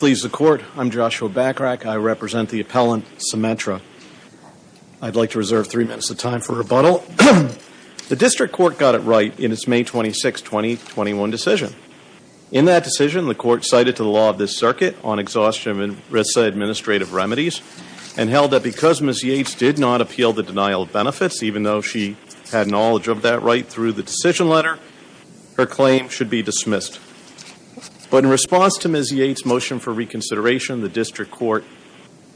I'm Joshua Bachrach. I represent the appellant, Symetra. I'd like to reserve three minutes of time for rebuttal. The district court got it right in its May 26, 2021 decision. In that decision, the court cited to the law of this circuit on exhaustion of ERISA administrative remedies and held that because Ms. Yates did not appeal the denial of benefits, even though she had knowledge of that right through the decision letter, her claim should be dismissed. But in response to Ms. Yates' motion for reconsideration, the district court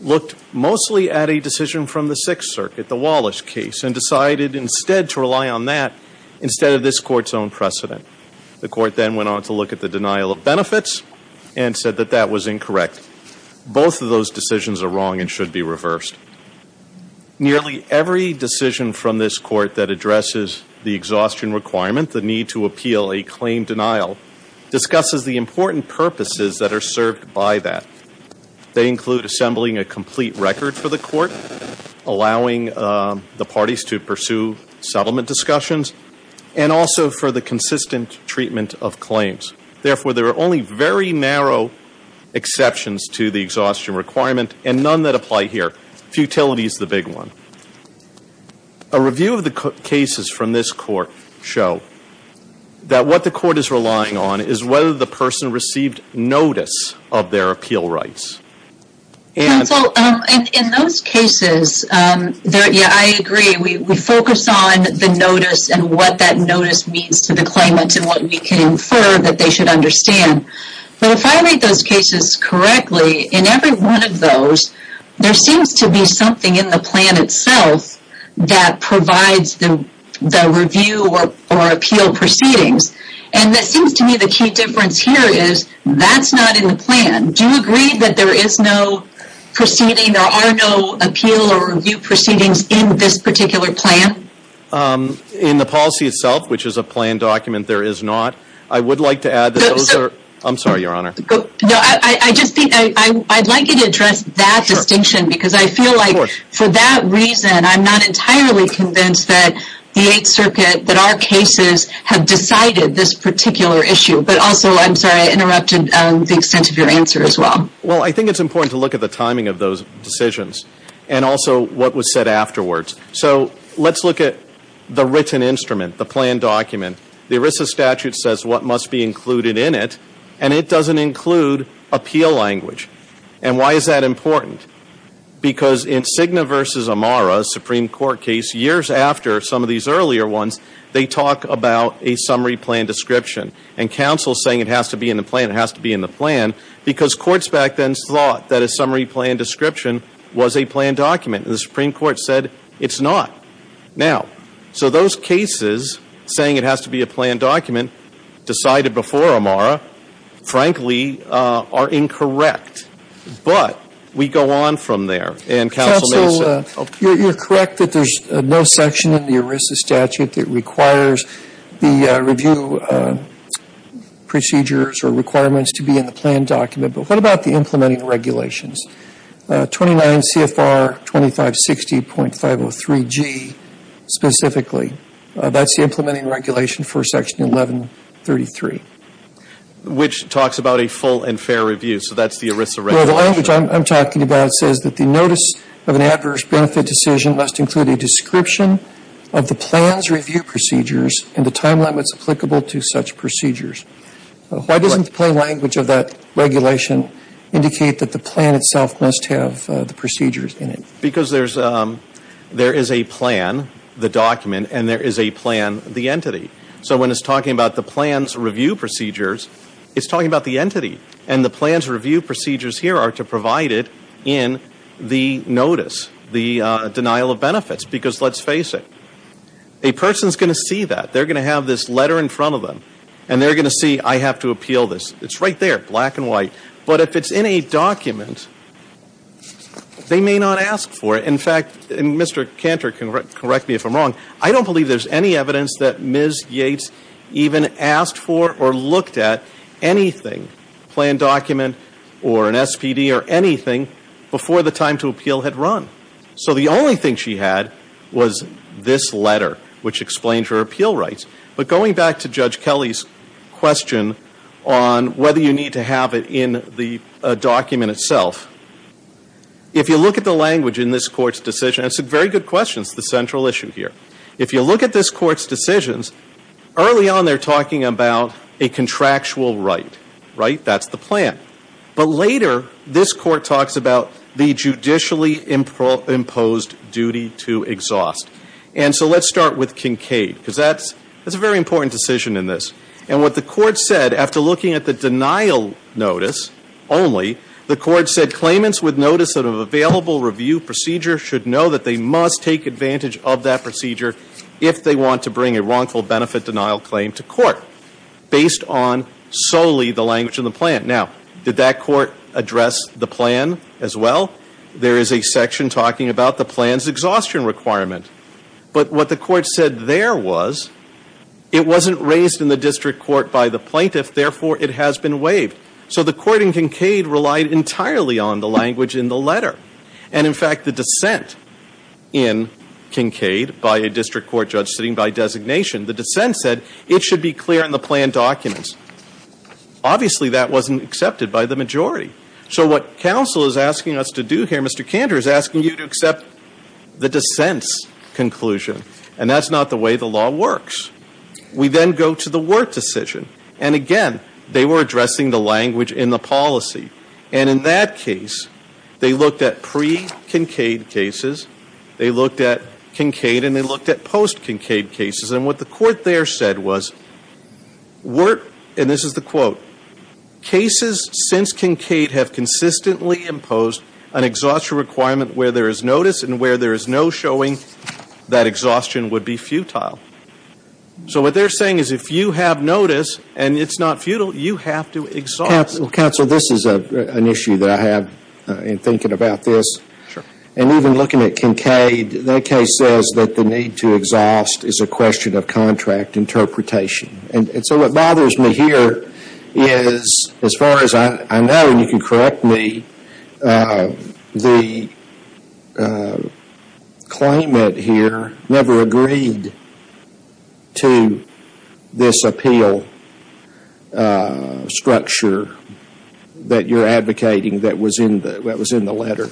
looked mostly at a decision from the Sixth Circuit, the Wallace case, and decided instead to rely on that instead of this court's own precedent. The court then went on to look at the denial of benefits and said that that was incorrect. Both of those decisions are wrong and should be reversed. Nearly every decision from this court that addresses the exhaustion requirement, the need to appeal a claim denial, discusses the important purposes that are served by that. They include assembling a complete record for the court, allowing the parties to pursue settlement discussions, and also for the consistent treatment of claims. Therefore, there are only very narrow exceptions to the exhaustion requirement and none that apply here. Futility is the big one. A review of the cases from this court show that what the court is relying on is whether the person received notice of their appeal rights. Counsel, in those cases, I agree. We focus on the notice and what that notice means to the claimant and what we can infer that they should understand. But if I read those cases correctly, in every one of those, there seems to be something in the plan itself that provides the review or appeal proceedings. And it seems to me the key difference here is that's not in the plan. Do you agree that there is no proceeding, there are no appeal or review proceedings in this particular plan? In the policy itself, which is a plan document, there is not. I would like to add that those are... I'm sorry, Your Honor. No, I just think I'd like you to address that distinction because I feel like for that reason I'm not entirely convinced that the Eighth Circuit, that our cases have decided this particular issue. But also, I'm sorry, I interrupted the extent of your answer as well. Well, I think it's important to look at the timing of those decisions and also what was said afterwards. So let's look at the written instrument, the plan document. The ERISA statute says what must be included in it and it doesn't include appeal language. And why is that important? Because in Cigna v. Amara, Supreme Court case, years after some of these earlier ones, they talk about a summary plan description and counsel saying it has to be in the plan, it has to be in the plan, because courts back then thought that a summary plan description was a plan document. The Supreme Court said it's not. Now, so those cases saying it has to be a plan document decided before Amara, frankly, are incorrect. But we go on from there and counsel may say. Counsel, you're correct that there's no section in the ERISA statute that requires the review procedures or requirements to be in the plan document. But what about the implementing regulations? 29 CFR 2560.503G specifically, that's the implementing regulation for section 1133. Which talks about a full and fair review, so that's the ERISA regulation. Well, the language I'm talking about says that the notice of an adverse benefit decision must include a description of the plan's review procedures and the time limits applicable to such procedures. Why doesn't the plan language of that regulation indicate that the plan itself must have the procedures in it? Because there is a plan, the document, and there is a plan, the entity. So when it's talking about the plan's review procedures, it's talking about the entity. And the plan's review procedures here are to provide it in the notice, the denial of benefits, because let's face it, a person's going to see that. They're going to have this letter in front of them, and they're going to see I have to appeal this. It's right there, black and white. But if it's in a document, they may not ask for it. In fact, and Mr. Cantor can correct me if I'm wrong, I don't believe there's any evidence that Ms. Yates even asked for or looked at anything, plan document or an SPD or anything, before the time to appeal had run. So the only thing she had was this letter, which explains her appeal rights. But going back to Judge Kelly's question on whether you need to have it in the document itself, if you look at the language in this Court's decision, it's a very good question. It's the central issue here. If you look at this Court's decisions, early on they're talking about a contractual right, right? That's the plan. But later, this Court talks about the judicially imposed duty to exhaust. And so let's start with Kincaid, because that's a very important decision in this. And what the Court said, after looking at the denial notice only, the Court said claimants with notice of available review procedure should know that they must take advantage of that procedure if they want to bring a wrongful benefit denial claim to court, based on solely the language in the plan. Now, did that Court address the plan as well? There is a section talking about the plan's exhaustion requirement. But what the Court said there was it wasn't raised in the district court by the plaintiff, therefore it has been waived. So the Court in Kincaid relied entirely on the language in the letter. And, in fact, the dissent in Kincaid by a district court judge sitting by designation, the dissent said it should be clear in the plan documents. Obviously, that wasn't accepted by the majority. So what counsel is asking us to do here, Mr. Cantor, is asking you to accept the dissent's conclusion. And that's not the way the law works. We then go to the Wirt decision. And, again, they were addressing the language in the policy. And in that case, they looked at pre-Kincaid cases, they looked at Kincaid, and they looked at post-Kincaid cases. And what the Court there said was, Wirt, and this is the quote, cases since Kincaid have consistently imposed an exhaustion requirement where there is notice and where there is no showing that exhaustion would be futile. So what they're saying is if you have notice and it's not futile, you have to exhaust. Counsel, this is an issue that I have in thinking about this. Sure. And even looking at Kincaid, that case says that the need to exhaust is a question of contract interpretation. And so what bothers me here is, as far as I know, and you can correct me, the claimant here never agreed to this appeal structure that you're advocating that was in the letter.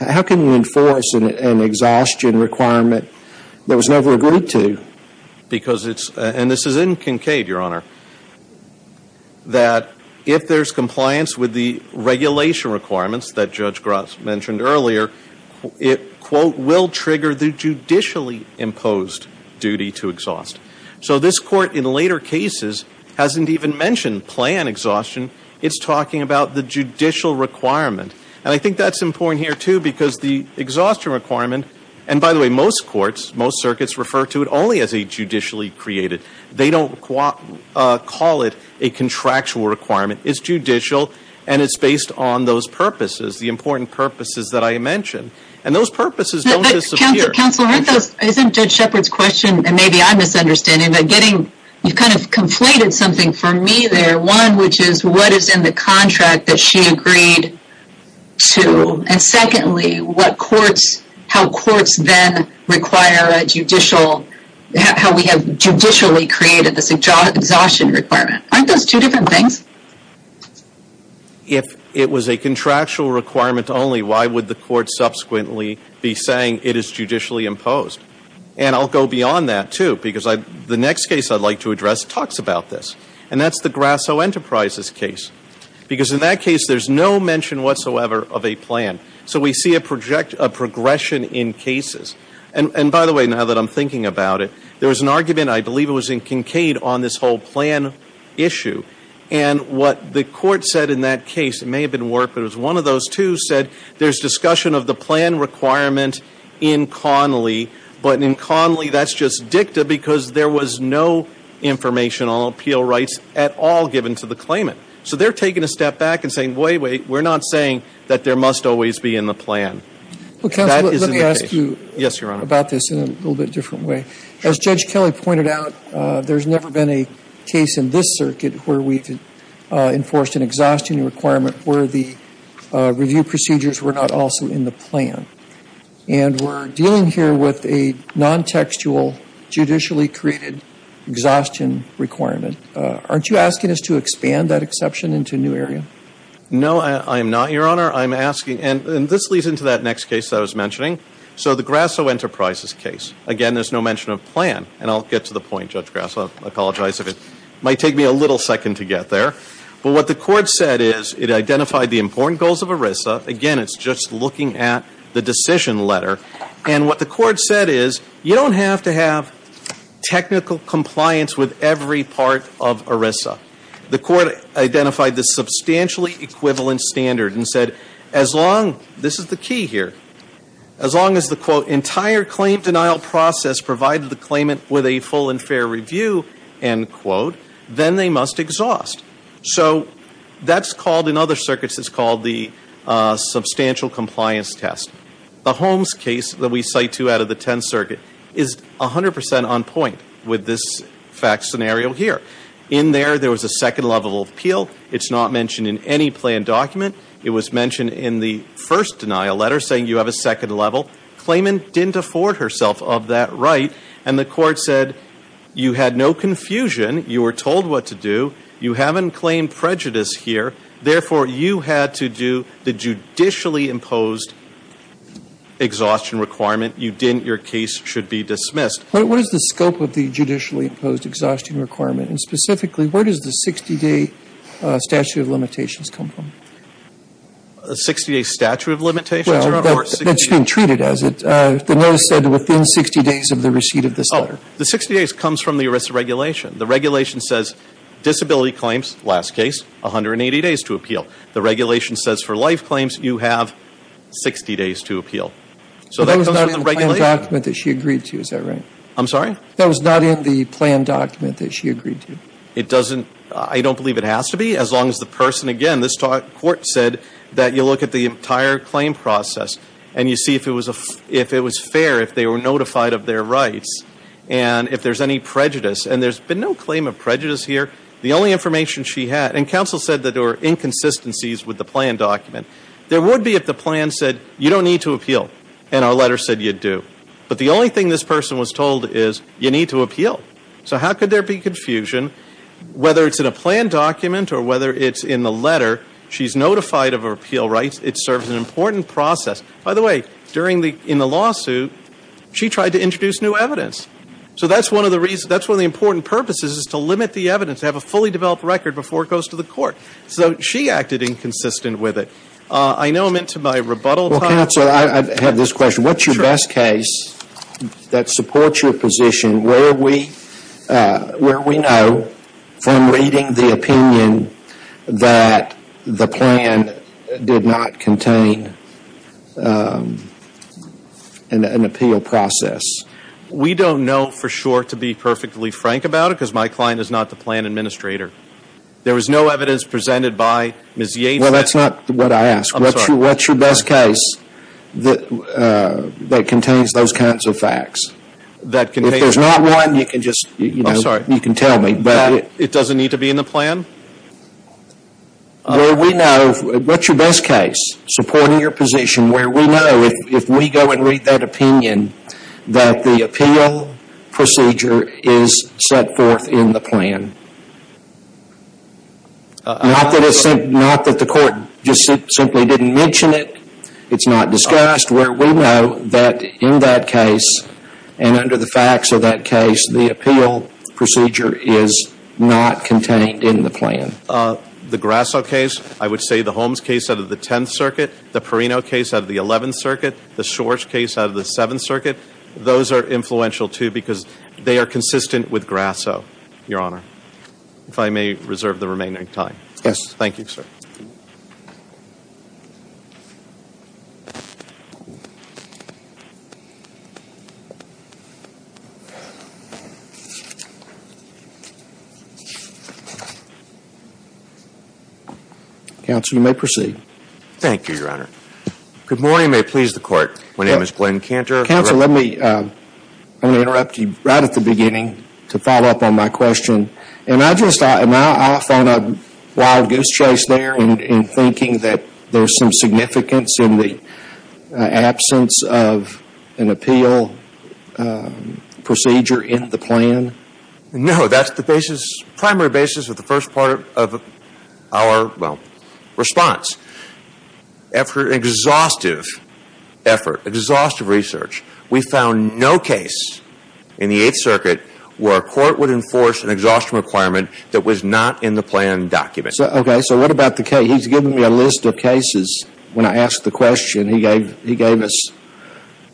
How can you enforce an exhaustion requirement that was never agreed to? Because it's, and this is in Kincaid, Your Honor, that if there's compliance with the regulation requirements that Judge Gross mentioned earlier, it, quote, will trigger the judicially imposed duty to exhaust. So this Court in later cases hasn't even mentioned plan exhaustion. It's talking about the judicial requirement. And I think that's important here, too, because the exhaustion requirement, and by the way, most courts, most circuits refer to it only as a judicially created. They don't call it a contractual requirement. It's judicial and it's based on those purposes, the important purposes that I mentioned. And those purposes don't disappear. Counsel, isn't Judge Shepard's question, and maybe I'm misunderstanding, but getting, you've kind of conflated something for me there. One, which is what is in the contract that she agreed to? And secondly, what courts, how courts then require a judicial, how we have judicially created this exhaustion requirement. Aren't those two different things? If it was a contractual requirement only, why would the court subsequently be saying it is judicially imposed? And I'll go beyond that, too, because the next case I'd like to address talks about this. And that's the Grasso Enterprises case. Because in that case, there's no mention whatsoever of a plan. So we see a progression in cases. And by the way, now that I'm thinking about it, there was an argument, I believe it was in Kincaid, on this whole plan issue. And what the court said in that case, it may have been Warp, but it was one of those two, said there's discussion of the plan requirement in Connolly, but in Connolly that's just dicta because there was no information on appeal rights at all given to the claimant. So they're taking a step back and saying, wait, wait, we're not saying that there must always be in the plan. That is in the case. Well, counsel, let me ask you about this in a little bit different way. As Judge Kelly pointed out, there's never been a case in this circuit where we've enforced an exhaustion requirement where the review procedures were not also in the plan. And we're dealing here with a non-textual, judicially created exhaustion requirement. Aren't you asking us to expand that exception into a new area? No, I am not, Your Honor. I'm asking, and this leads into that next case that I was mentioning. So the Grasso Enterprises case. Again, there's no mention of plan. And I'll get to the point, Judge Grasso. I apologize if it might take me a little second to get there. But what the court said is it identified the important goals of ERISA. Again, it's just looking at the decision letter. And what the court said is you don't have to have technical compliance with every part of ERISA. The court identified the substantially equivalent standard and said as long, this is the key here, as long as the, quote, entire claim denial process provided the claimant with a full and fair review, end quote, then they must exhaust. So that's called, in other circuits, it's called the substantial compliance test. The Holmes case that we cite two out of the tenth circuit is 100% on point with this fact scenario here. In there, there was a second level of appeal. It's not mentioned in any plan document. It was mentioned in the first denial letter saying you have a second level. Claimant didn't afford herself of that right. And the court said you had no confusion. You were told what to do. You haven't claimed prejudice here. Therefore, you had to do the judicially imposed exhaustion requirement. You didn't. Your case should be dismissed. But what is the scope of the judicially imposed exhaustion requirement? And specifically, where does the 60-day statute of limitations come from? A 60-day statute of limitations? Well, that's been treated as it. The notice said within 60 days of the receipt of this letter. Oh, the 60 days comes from the ERISA regulation. The regulation says disability claims, last case, 180 days to appeal. The regulation says for life claims, you have 60 days to appeal. So that comes from the regulation. That was not in the plan document that she agreed to. Is that right? I'm sorry? That was not in the plan document that she agreed to. It doesn't. I don't believe it has to be. As long as the person, again, this court said that you look at the entire claim process. And you see if it was fair, if they were notified of their rights. And if there's any prejudice. And there's been no claim of prejudice here. The only information she had. And counsel said that there were inconsistencies with the plan document. There would be if the plan said you don't need to appeal. And our letter said you do. But the only thing this person was told is you need to appeal. So how could there be confusion? Whether it's in a plan document or whether it's in the letter, she's notified of her appeal rights. It serves an important process. By the way, in the lawsuit, she tried to introduce new evidence. So that's one of the important purposes is to limit the evidence. To have a fully developed record before it goes to the court. So she acted inconsistent with it. I know I'm into my rebuttal time. Well, counsel, I have this question. What's your best case that supports your position where we know from reading the opinion that the plan did not contain an appeal process? We don't know for sure, to be perfectly frank about it, because my client is not the plan administrator. There was no evidence presented by Ms. Yates. Well, that's not what I asked. I'm sorry. What's your best case that contains those kinds of facts? If there's not one, you can just, you know, you can tell me. It doesn't need to be in the plan? Well, we know. What's your best case supporting your position where we know, if we go and read that opinion, that the appeal procedure is set forth in the plan? Not that the court just simply didn't mention it. It's not discussed. Where we know that in that case, and under the facts of that case, the appeal procedure is not contained in the plan. The Grasso case, I would say the Holmes case out of the Tenth Circuit, the Perino case out of the Eleventh Circuit, the Shor's case out of the Seventh Circuit, those are influential, too, because they are consistent with Grasso, Your Honor, if I may reserve the remaining time. Yes. Thank you, sir. Counsel, you may proceed. Thank you, Your Honor. Good morning, and may it please the Court. My name is Glenn Cantor. Counsel, let me interrupt you right at the beginning to follow up on my question. Am I off on a wild goose chase there in thinking that there's some significance in the absence of an appeal procedure in the plan? No, that's the primary basis of the first part of our response. After an exhaustive effort, exhaustive research, we found no case in the Eighth Circuit where a court would enforce an exhaustion requirement that was not in the plan document. Okay. So what about the case? He's given me a list of cases. When I asked the question, he gave us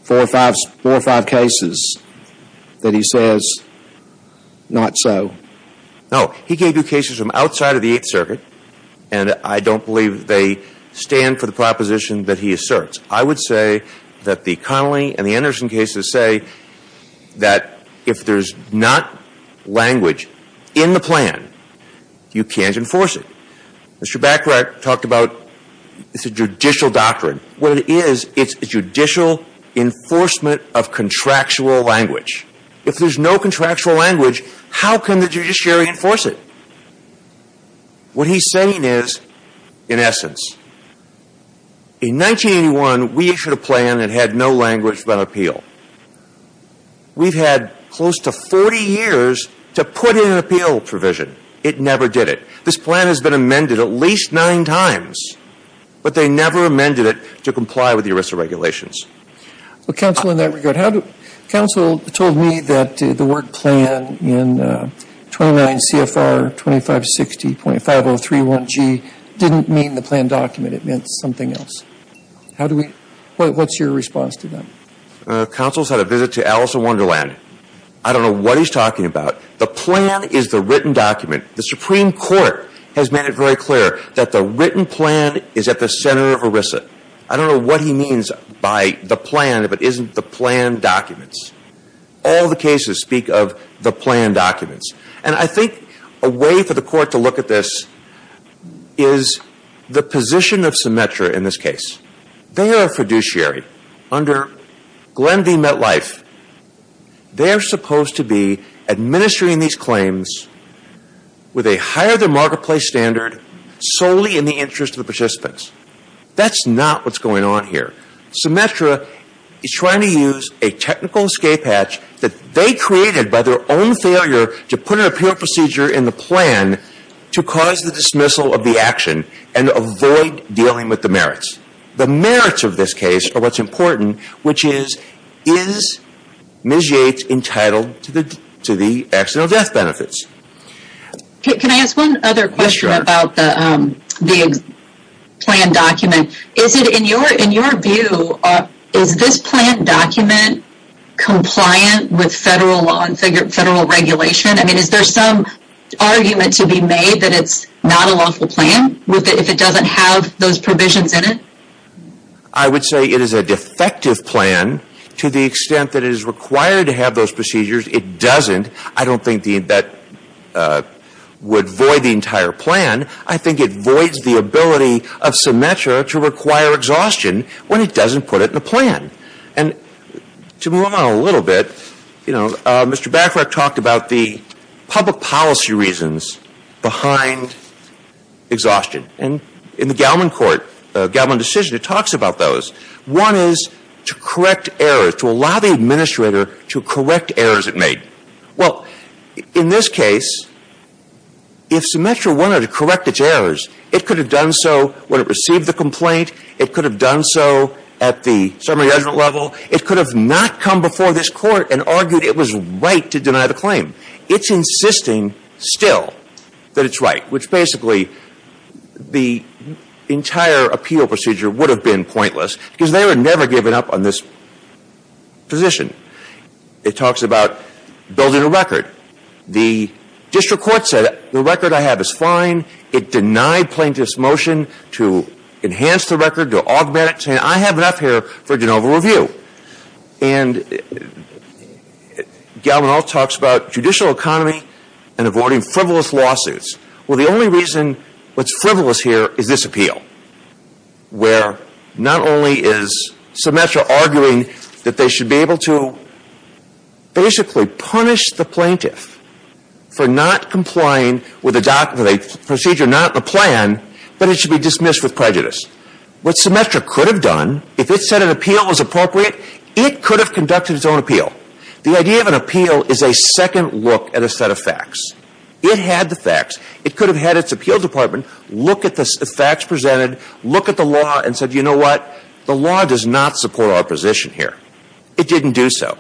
four or five cases that he says not so. No. He gave you cases from outside of the Eighth Circuit, and I don't believe they stand for the proposition that he asserts. I would say that the Connolly and the Anderson cases say that if there's not language in the plan, you can't enforce it. Mr. Bacharach talked about it's a judicial doctrine. What it is, it's judicial enforcement of contractual language. If there's no contractual language, how can the judiciary enforce it? What he's saying is, in essence, in 1981, we issued a plan that had no language about appeal. We've had close to 40 years to put in an appeal provision. It never did it. This plan has been amended at least nine times, but they never amended it to comply with the ERISA regulations. Well, Counsel, in that regard, Counsel told me that the word plan in 29 CFR 2560.5031G didn't mean the plan document. It meant something else. What's your response to that? Counsel's had a visit to Alice in Wonderland. I don't know what he's talking about. The plan is the written document. The Supreme Court has made it very clear that the written plan is at the center of ERISA. I don't know what he means by the plan if it isn't the plan documents. All the cases speak of the plan documents. And I think a way for the Court to look at this is the position of Symetra in this case. They are a fiduciary. Under Glenn v. MetLife, they're supposed to be administering these claims with a higher-than-marketplace standard solely in the interest of the participants. That's not what's going on here. Symetra is trying to use a technical escape hatch that they created by their own failure to put an appeal procedure in the plan to cause the dismissal of the action and avoid dealing with the merits. The merits of this case are what's important, which is, is Ms. Yates entitled to the accidental death benefits? Can I ask one other question about the plan document? In your view, is this plan document compliant with federal regulation? Is there some argument to be made that it's not a lawful plan if it doesn't have those provisions in it? I would say it is a defective plan to the extent that it is required to have those procedures. It doesn't. I don't think that would void the entire plan. I think it voids the ability of Symetra to require exhaustion when it doesn't put it in the plan. And to move on a little bit, you know, Mr. Bachrach talked about the public policy reasons behind exhaustion. And in the Gallman Court, Gallman decision, it talks about those. One is to correct errors, to allow the administrator to correct errors it made. Well, in this case, if Symetra wanted to correct its errors, it could have done so when it received the complaint. It could have done so at the summary judgment level. It could have not come before this Court and argued it was right to deny the claim. It's insisting still that it's right, which basically the entire appeal procedure would have been pointless because they would never have given up on this position. It talks about building a record. The district court said the record I have is fine. It denied plaintiff's motion to enhance the record, to augment it, saying I have enough here for de novo review. And Gallman also talks about judicial economy and avoiding frivolous lawsuits. Well, the only reason what's frivolous here is this appeal, where not only is Symetra arguing that they should be able to basically punish the plaintiff for not complying with a procedure, not the plan, but it should be dismissed with prejudice. What Symetra could have done, if it said an appeal was appropriate, it could have conducted its own appeal. The idea of an appeal is a second look at a set of facts. It had the facts. It could have had its appeal department look at the facts presented, look at the law, and said, you know what, the law does not support our position here. It didn't do so.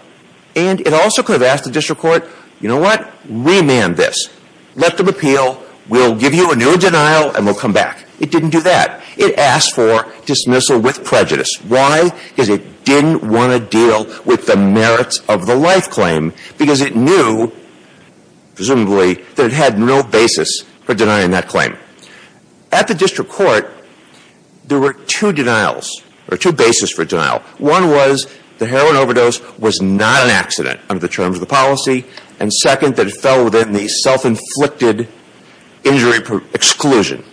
And it also could have asked the district court, you know what, remand this. Let them appeal. We'll give you a new denial and we'll come back. It didn't do that. It asked for dismissal with prejudice. Why? Because it didn't want to deal with the merits of the life claim because it knew, presumably, that it had no basis for denying that claim. At the district court, there were two denials or two basis for denial. One was the heroin overdose was not an accident under the terms of the policy. And second, that it fell within the self-inflicted injury exclusion.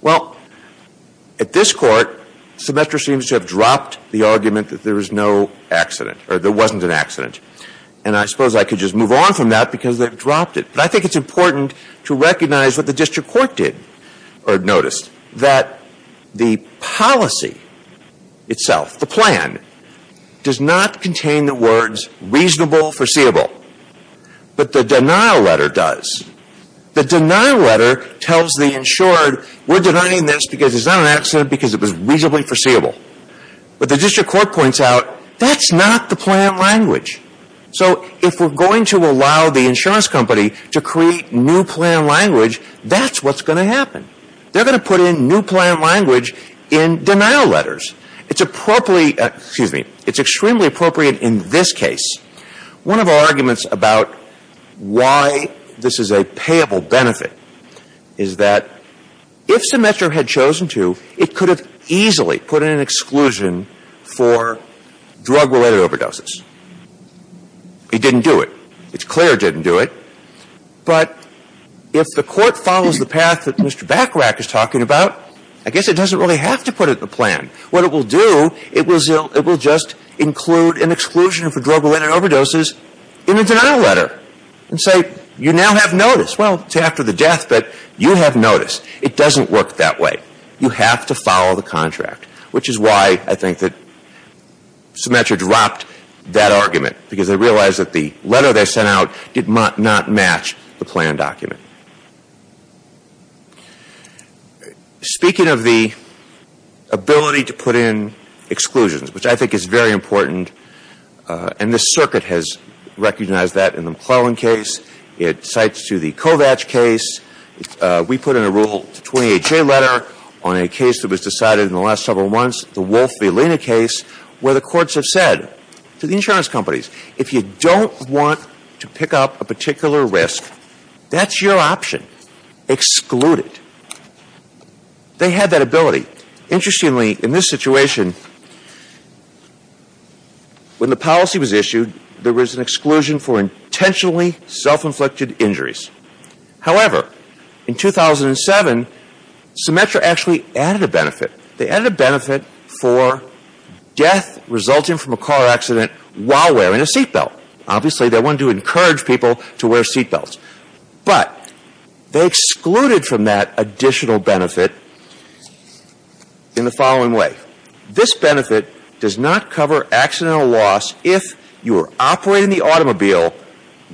Well, at this court, Symetra seems to have dropped the argument that there was no accident or there wasn't an accident. And I suppose I could just move on from that because they've dropped it. But I think it's important to recognize what the district court did or noticed, that the policy itself, the plan, does not contain the words reasonable, foreseeable. But the denial letter does. The denial letter tells the insured, we're denying this because it's not an accident because it was reasonably foreseeable. But the district court points out, that's not the plan language. So if we're going to allow the insurance company to create new plan language, that's what's going to happen. They're going to put in new plan language in denial letters. It's appropriately, excuse me, it's extremely appropriate in this case. One of our arguments about why this is a payable benefit is that if Symetra had chosen to, it could have easily put in an exclusion for drug-related overdoses. It didn't do it. It's clear it didn't do it. But if the Court follows the path that Mr. Bachrach is talking about, I guess it doesn't really have to put it in the plan. What it will do, it will just include an exclusion for drug-related overdoses in the denial letter and say, you now have notice. Well, it's after the death, but you have notice. It doesn't work that way. You have to follow the contract, which is why I think that Symetra dropped that argument, because they realized that the letter they sent out did not match the plan document. Speaking of the ability to put in exclusions, which I think is very important, and the circuit has recognized that in the McClellan case. It cites to the Kovacs case. We put in a Rule 28J letter on a case that was decided in the last several months, the Wolf-Villina case, where the courts have said to the insurance companies, if you don't want to pick up a particular risk, that's your option. Exclude it. They had that ability. Interestingly, in this situation, when the policy was issued, there was an exclusion for intentionally self-inflicted injuries. However, in 2007, Symetra actually added a benefit. They added a benefit for death resulting from a car accident while wearing a seatbelt. Obviously, they wanted to encourage people to wear seatbelts. But they excluded from that additional benefit in the following way. This benefit does not cover accidental loss if you are operating the automobile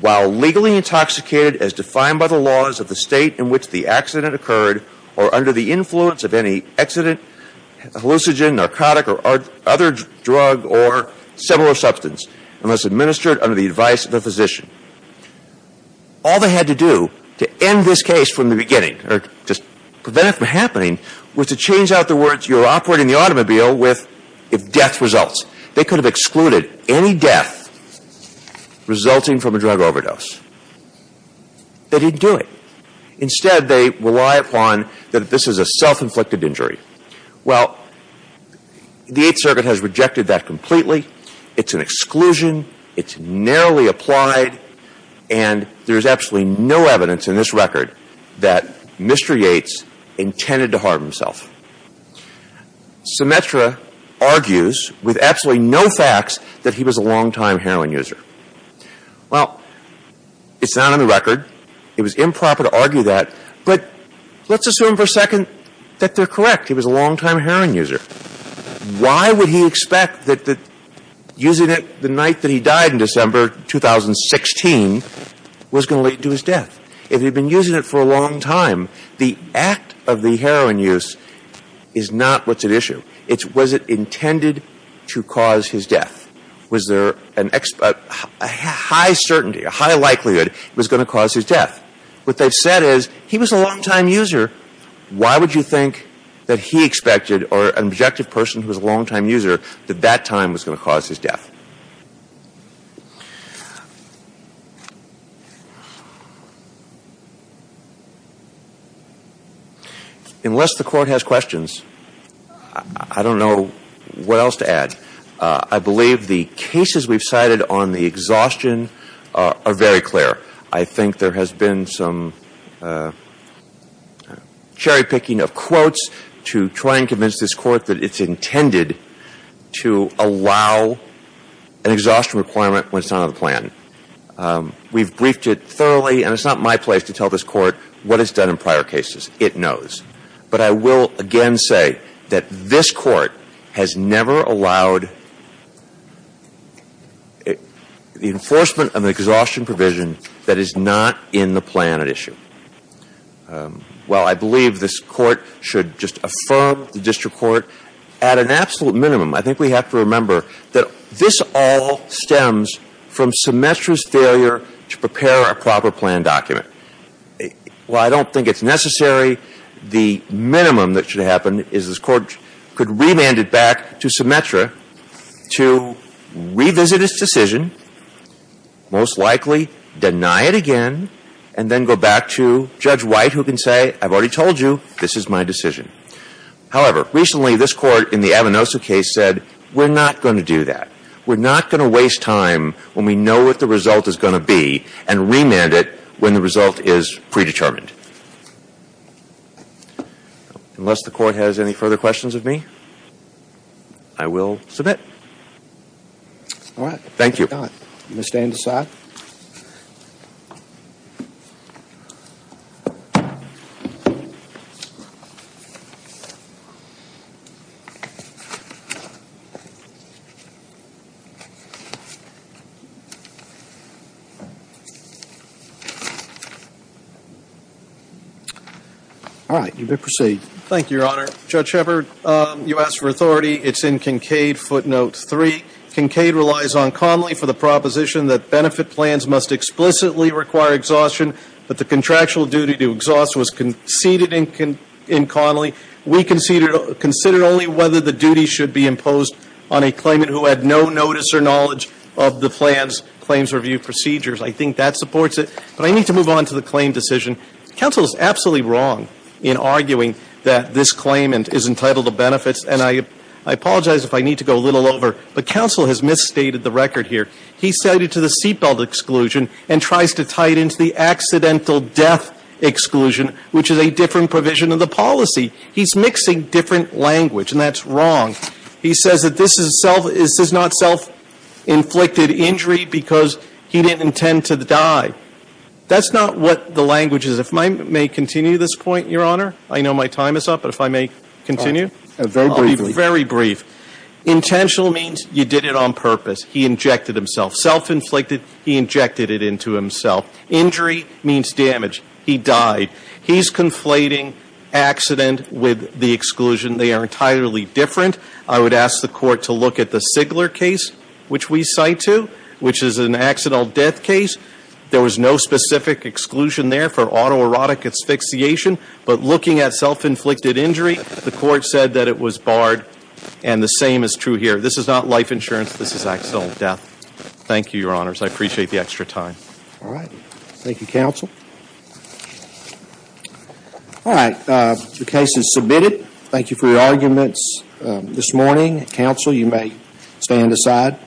while legally intoxicated as defined by the laws of the state in which the accident occurred or under the influence of any accident, hallucinogen, narcotic, or other drug or similar substance, unless administered under the advice of a physician. All they had to do to end this case from the beginning, or just prevent it from happening, was to change out the words, you're operating the automobile, with if death results. They could have excluded any death resulting from a drug overdose. They didn't do it. Instead, they rely upon that this is a self-inflicted injury. Well, the Eighth Circuit has rejected that completely. It's an exclusion. It's narrowly applied. And there is absolutely no evidence in this record that Mr. Yates intended to harm himself. Symetra argues with absolutely no facts that he was a longtime heroin user. Well, it's not on the record. It was improper to argue that. But let's assume for a second that they're correct. He was a longtime heroin user. Why would he expect that using it the night that he died in December 2016 was going to lead to his death? If he'd been using it for a long time, the act of the heroin use is not what's at issue. It's was it intended to cause his death? Was there a high certainty, a high likelihood it was going to cause his death? What they've said is he was a longtime user. Why would you think that he expected, or an objective person who was a longtime user, that that time was going to cause his death? Unless the Court has questions, I don't know what else to add. I believe the cases we've cited on the exhaustion are very clear. I think there has been some cherry-picking of quotes to try and convince this Court that it's intended to allow an exhaustion requirement when it's not on the plan. We've briefed it thoroughly, and it's not my place to tell this Court what it's done in prior cases. It knows. But I will again say that this Court has never allowed the enforcement of an exhaustion provision that is not in the plan at issue. While I believe this Court should just affirm the district court, at an absolute minimum, I think we have to remember that this all stems from Symetra's failure to prepare a proper plan document. While I don't think it's necessary, the minimum that should happen is this Court could remand it back to Symetra to revisit its decision, most likely deny it again, and then go back to Judge White who can say, I've already told you, this is my decision. However, recently, this Court in the Avanosu case said, we're not going to do that. We're not going to waste time when we know what the result is going to be and remand it when the result is predetermined. Unless the Court has any further questions of me? I will submit. All right. Thank you. You may stand aside. All right. You may proceed. Thank you, Your Honor. Judge Shepard, you asked for authority. It's in Kincaid footnote 3. Kincaid relies on Connolly for the proposition that benefit plans must explicitly require exhaustion, but the contractual duty to exhaust was conceded in Connolly. We considered only whether the duty should be imposed on a claimant who had no notice or knowledge of the plan's claims review procedures. I think that supports it. But I need to move on to the claim decision. Counsel is absolutely wrong in arguing that this claimant is entitled to benefits. And I apologize if I need to go a little over, but counsel has misstated the record here. He cited to the seatbelt exclusion and tries to tie it into the accidental death exclusion, which is a different provision of the policy. He's mixing different language, and that's wrong. He says that this is not self-inflicted injury because he didn't intend to die. That's not what the language is. If I may continue this point, Your Honor. I know my time is up, but if I may continue. I'll be very brief. Intentional means you did it on purpose. He injected himself. Self-inflicted, he injected it into himself. Injury means damage. He died. He's conflating accident with the exclusion. They are entirely different. I would ask the Court to look at the Sigler case, which we cite to, which is an accidental death case. There was no specific exclusion there for autoerotic asphyxiation, but looking at self-inflicted injury, the Court said that it was barred, and the same is true here. This is not life insurance. This is accidental death. Thank you, Your Honors. I appreciate the extra time. All right. Thank you, counsel. All right. The case is submitted. Thank you for your arguments this morning. Counsel, you may stand aside.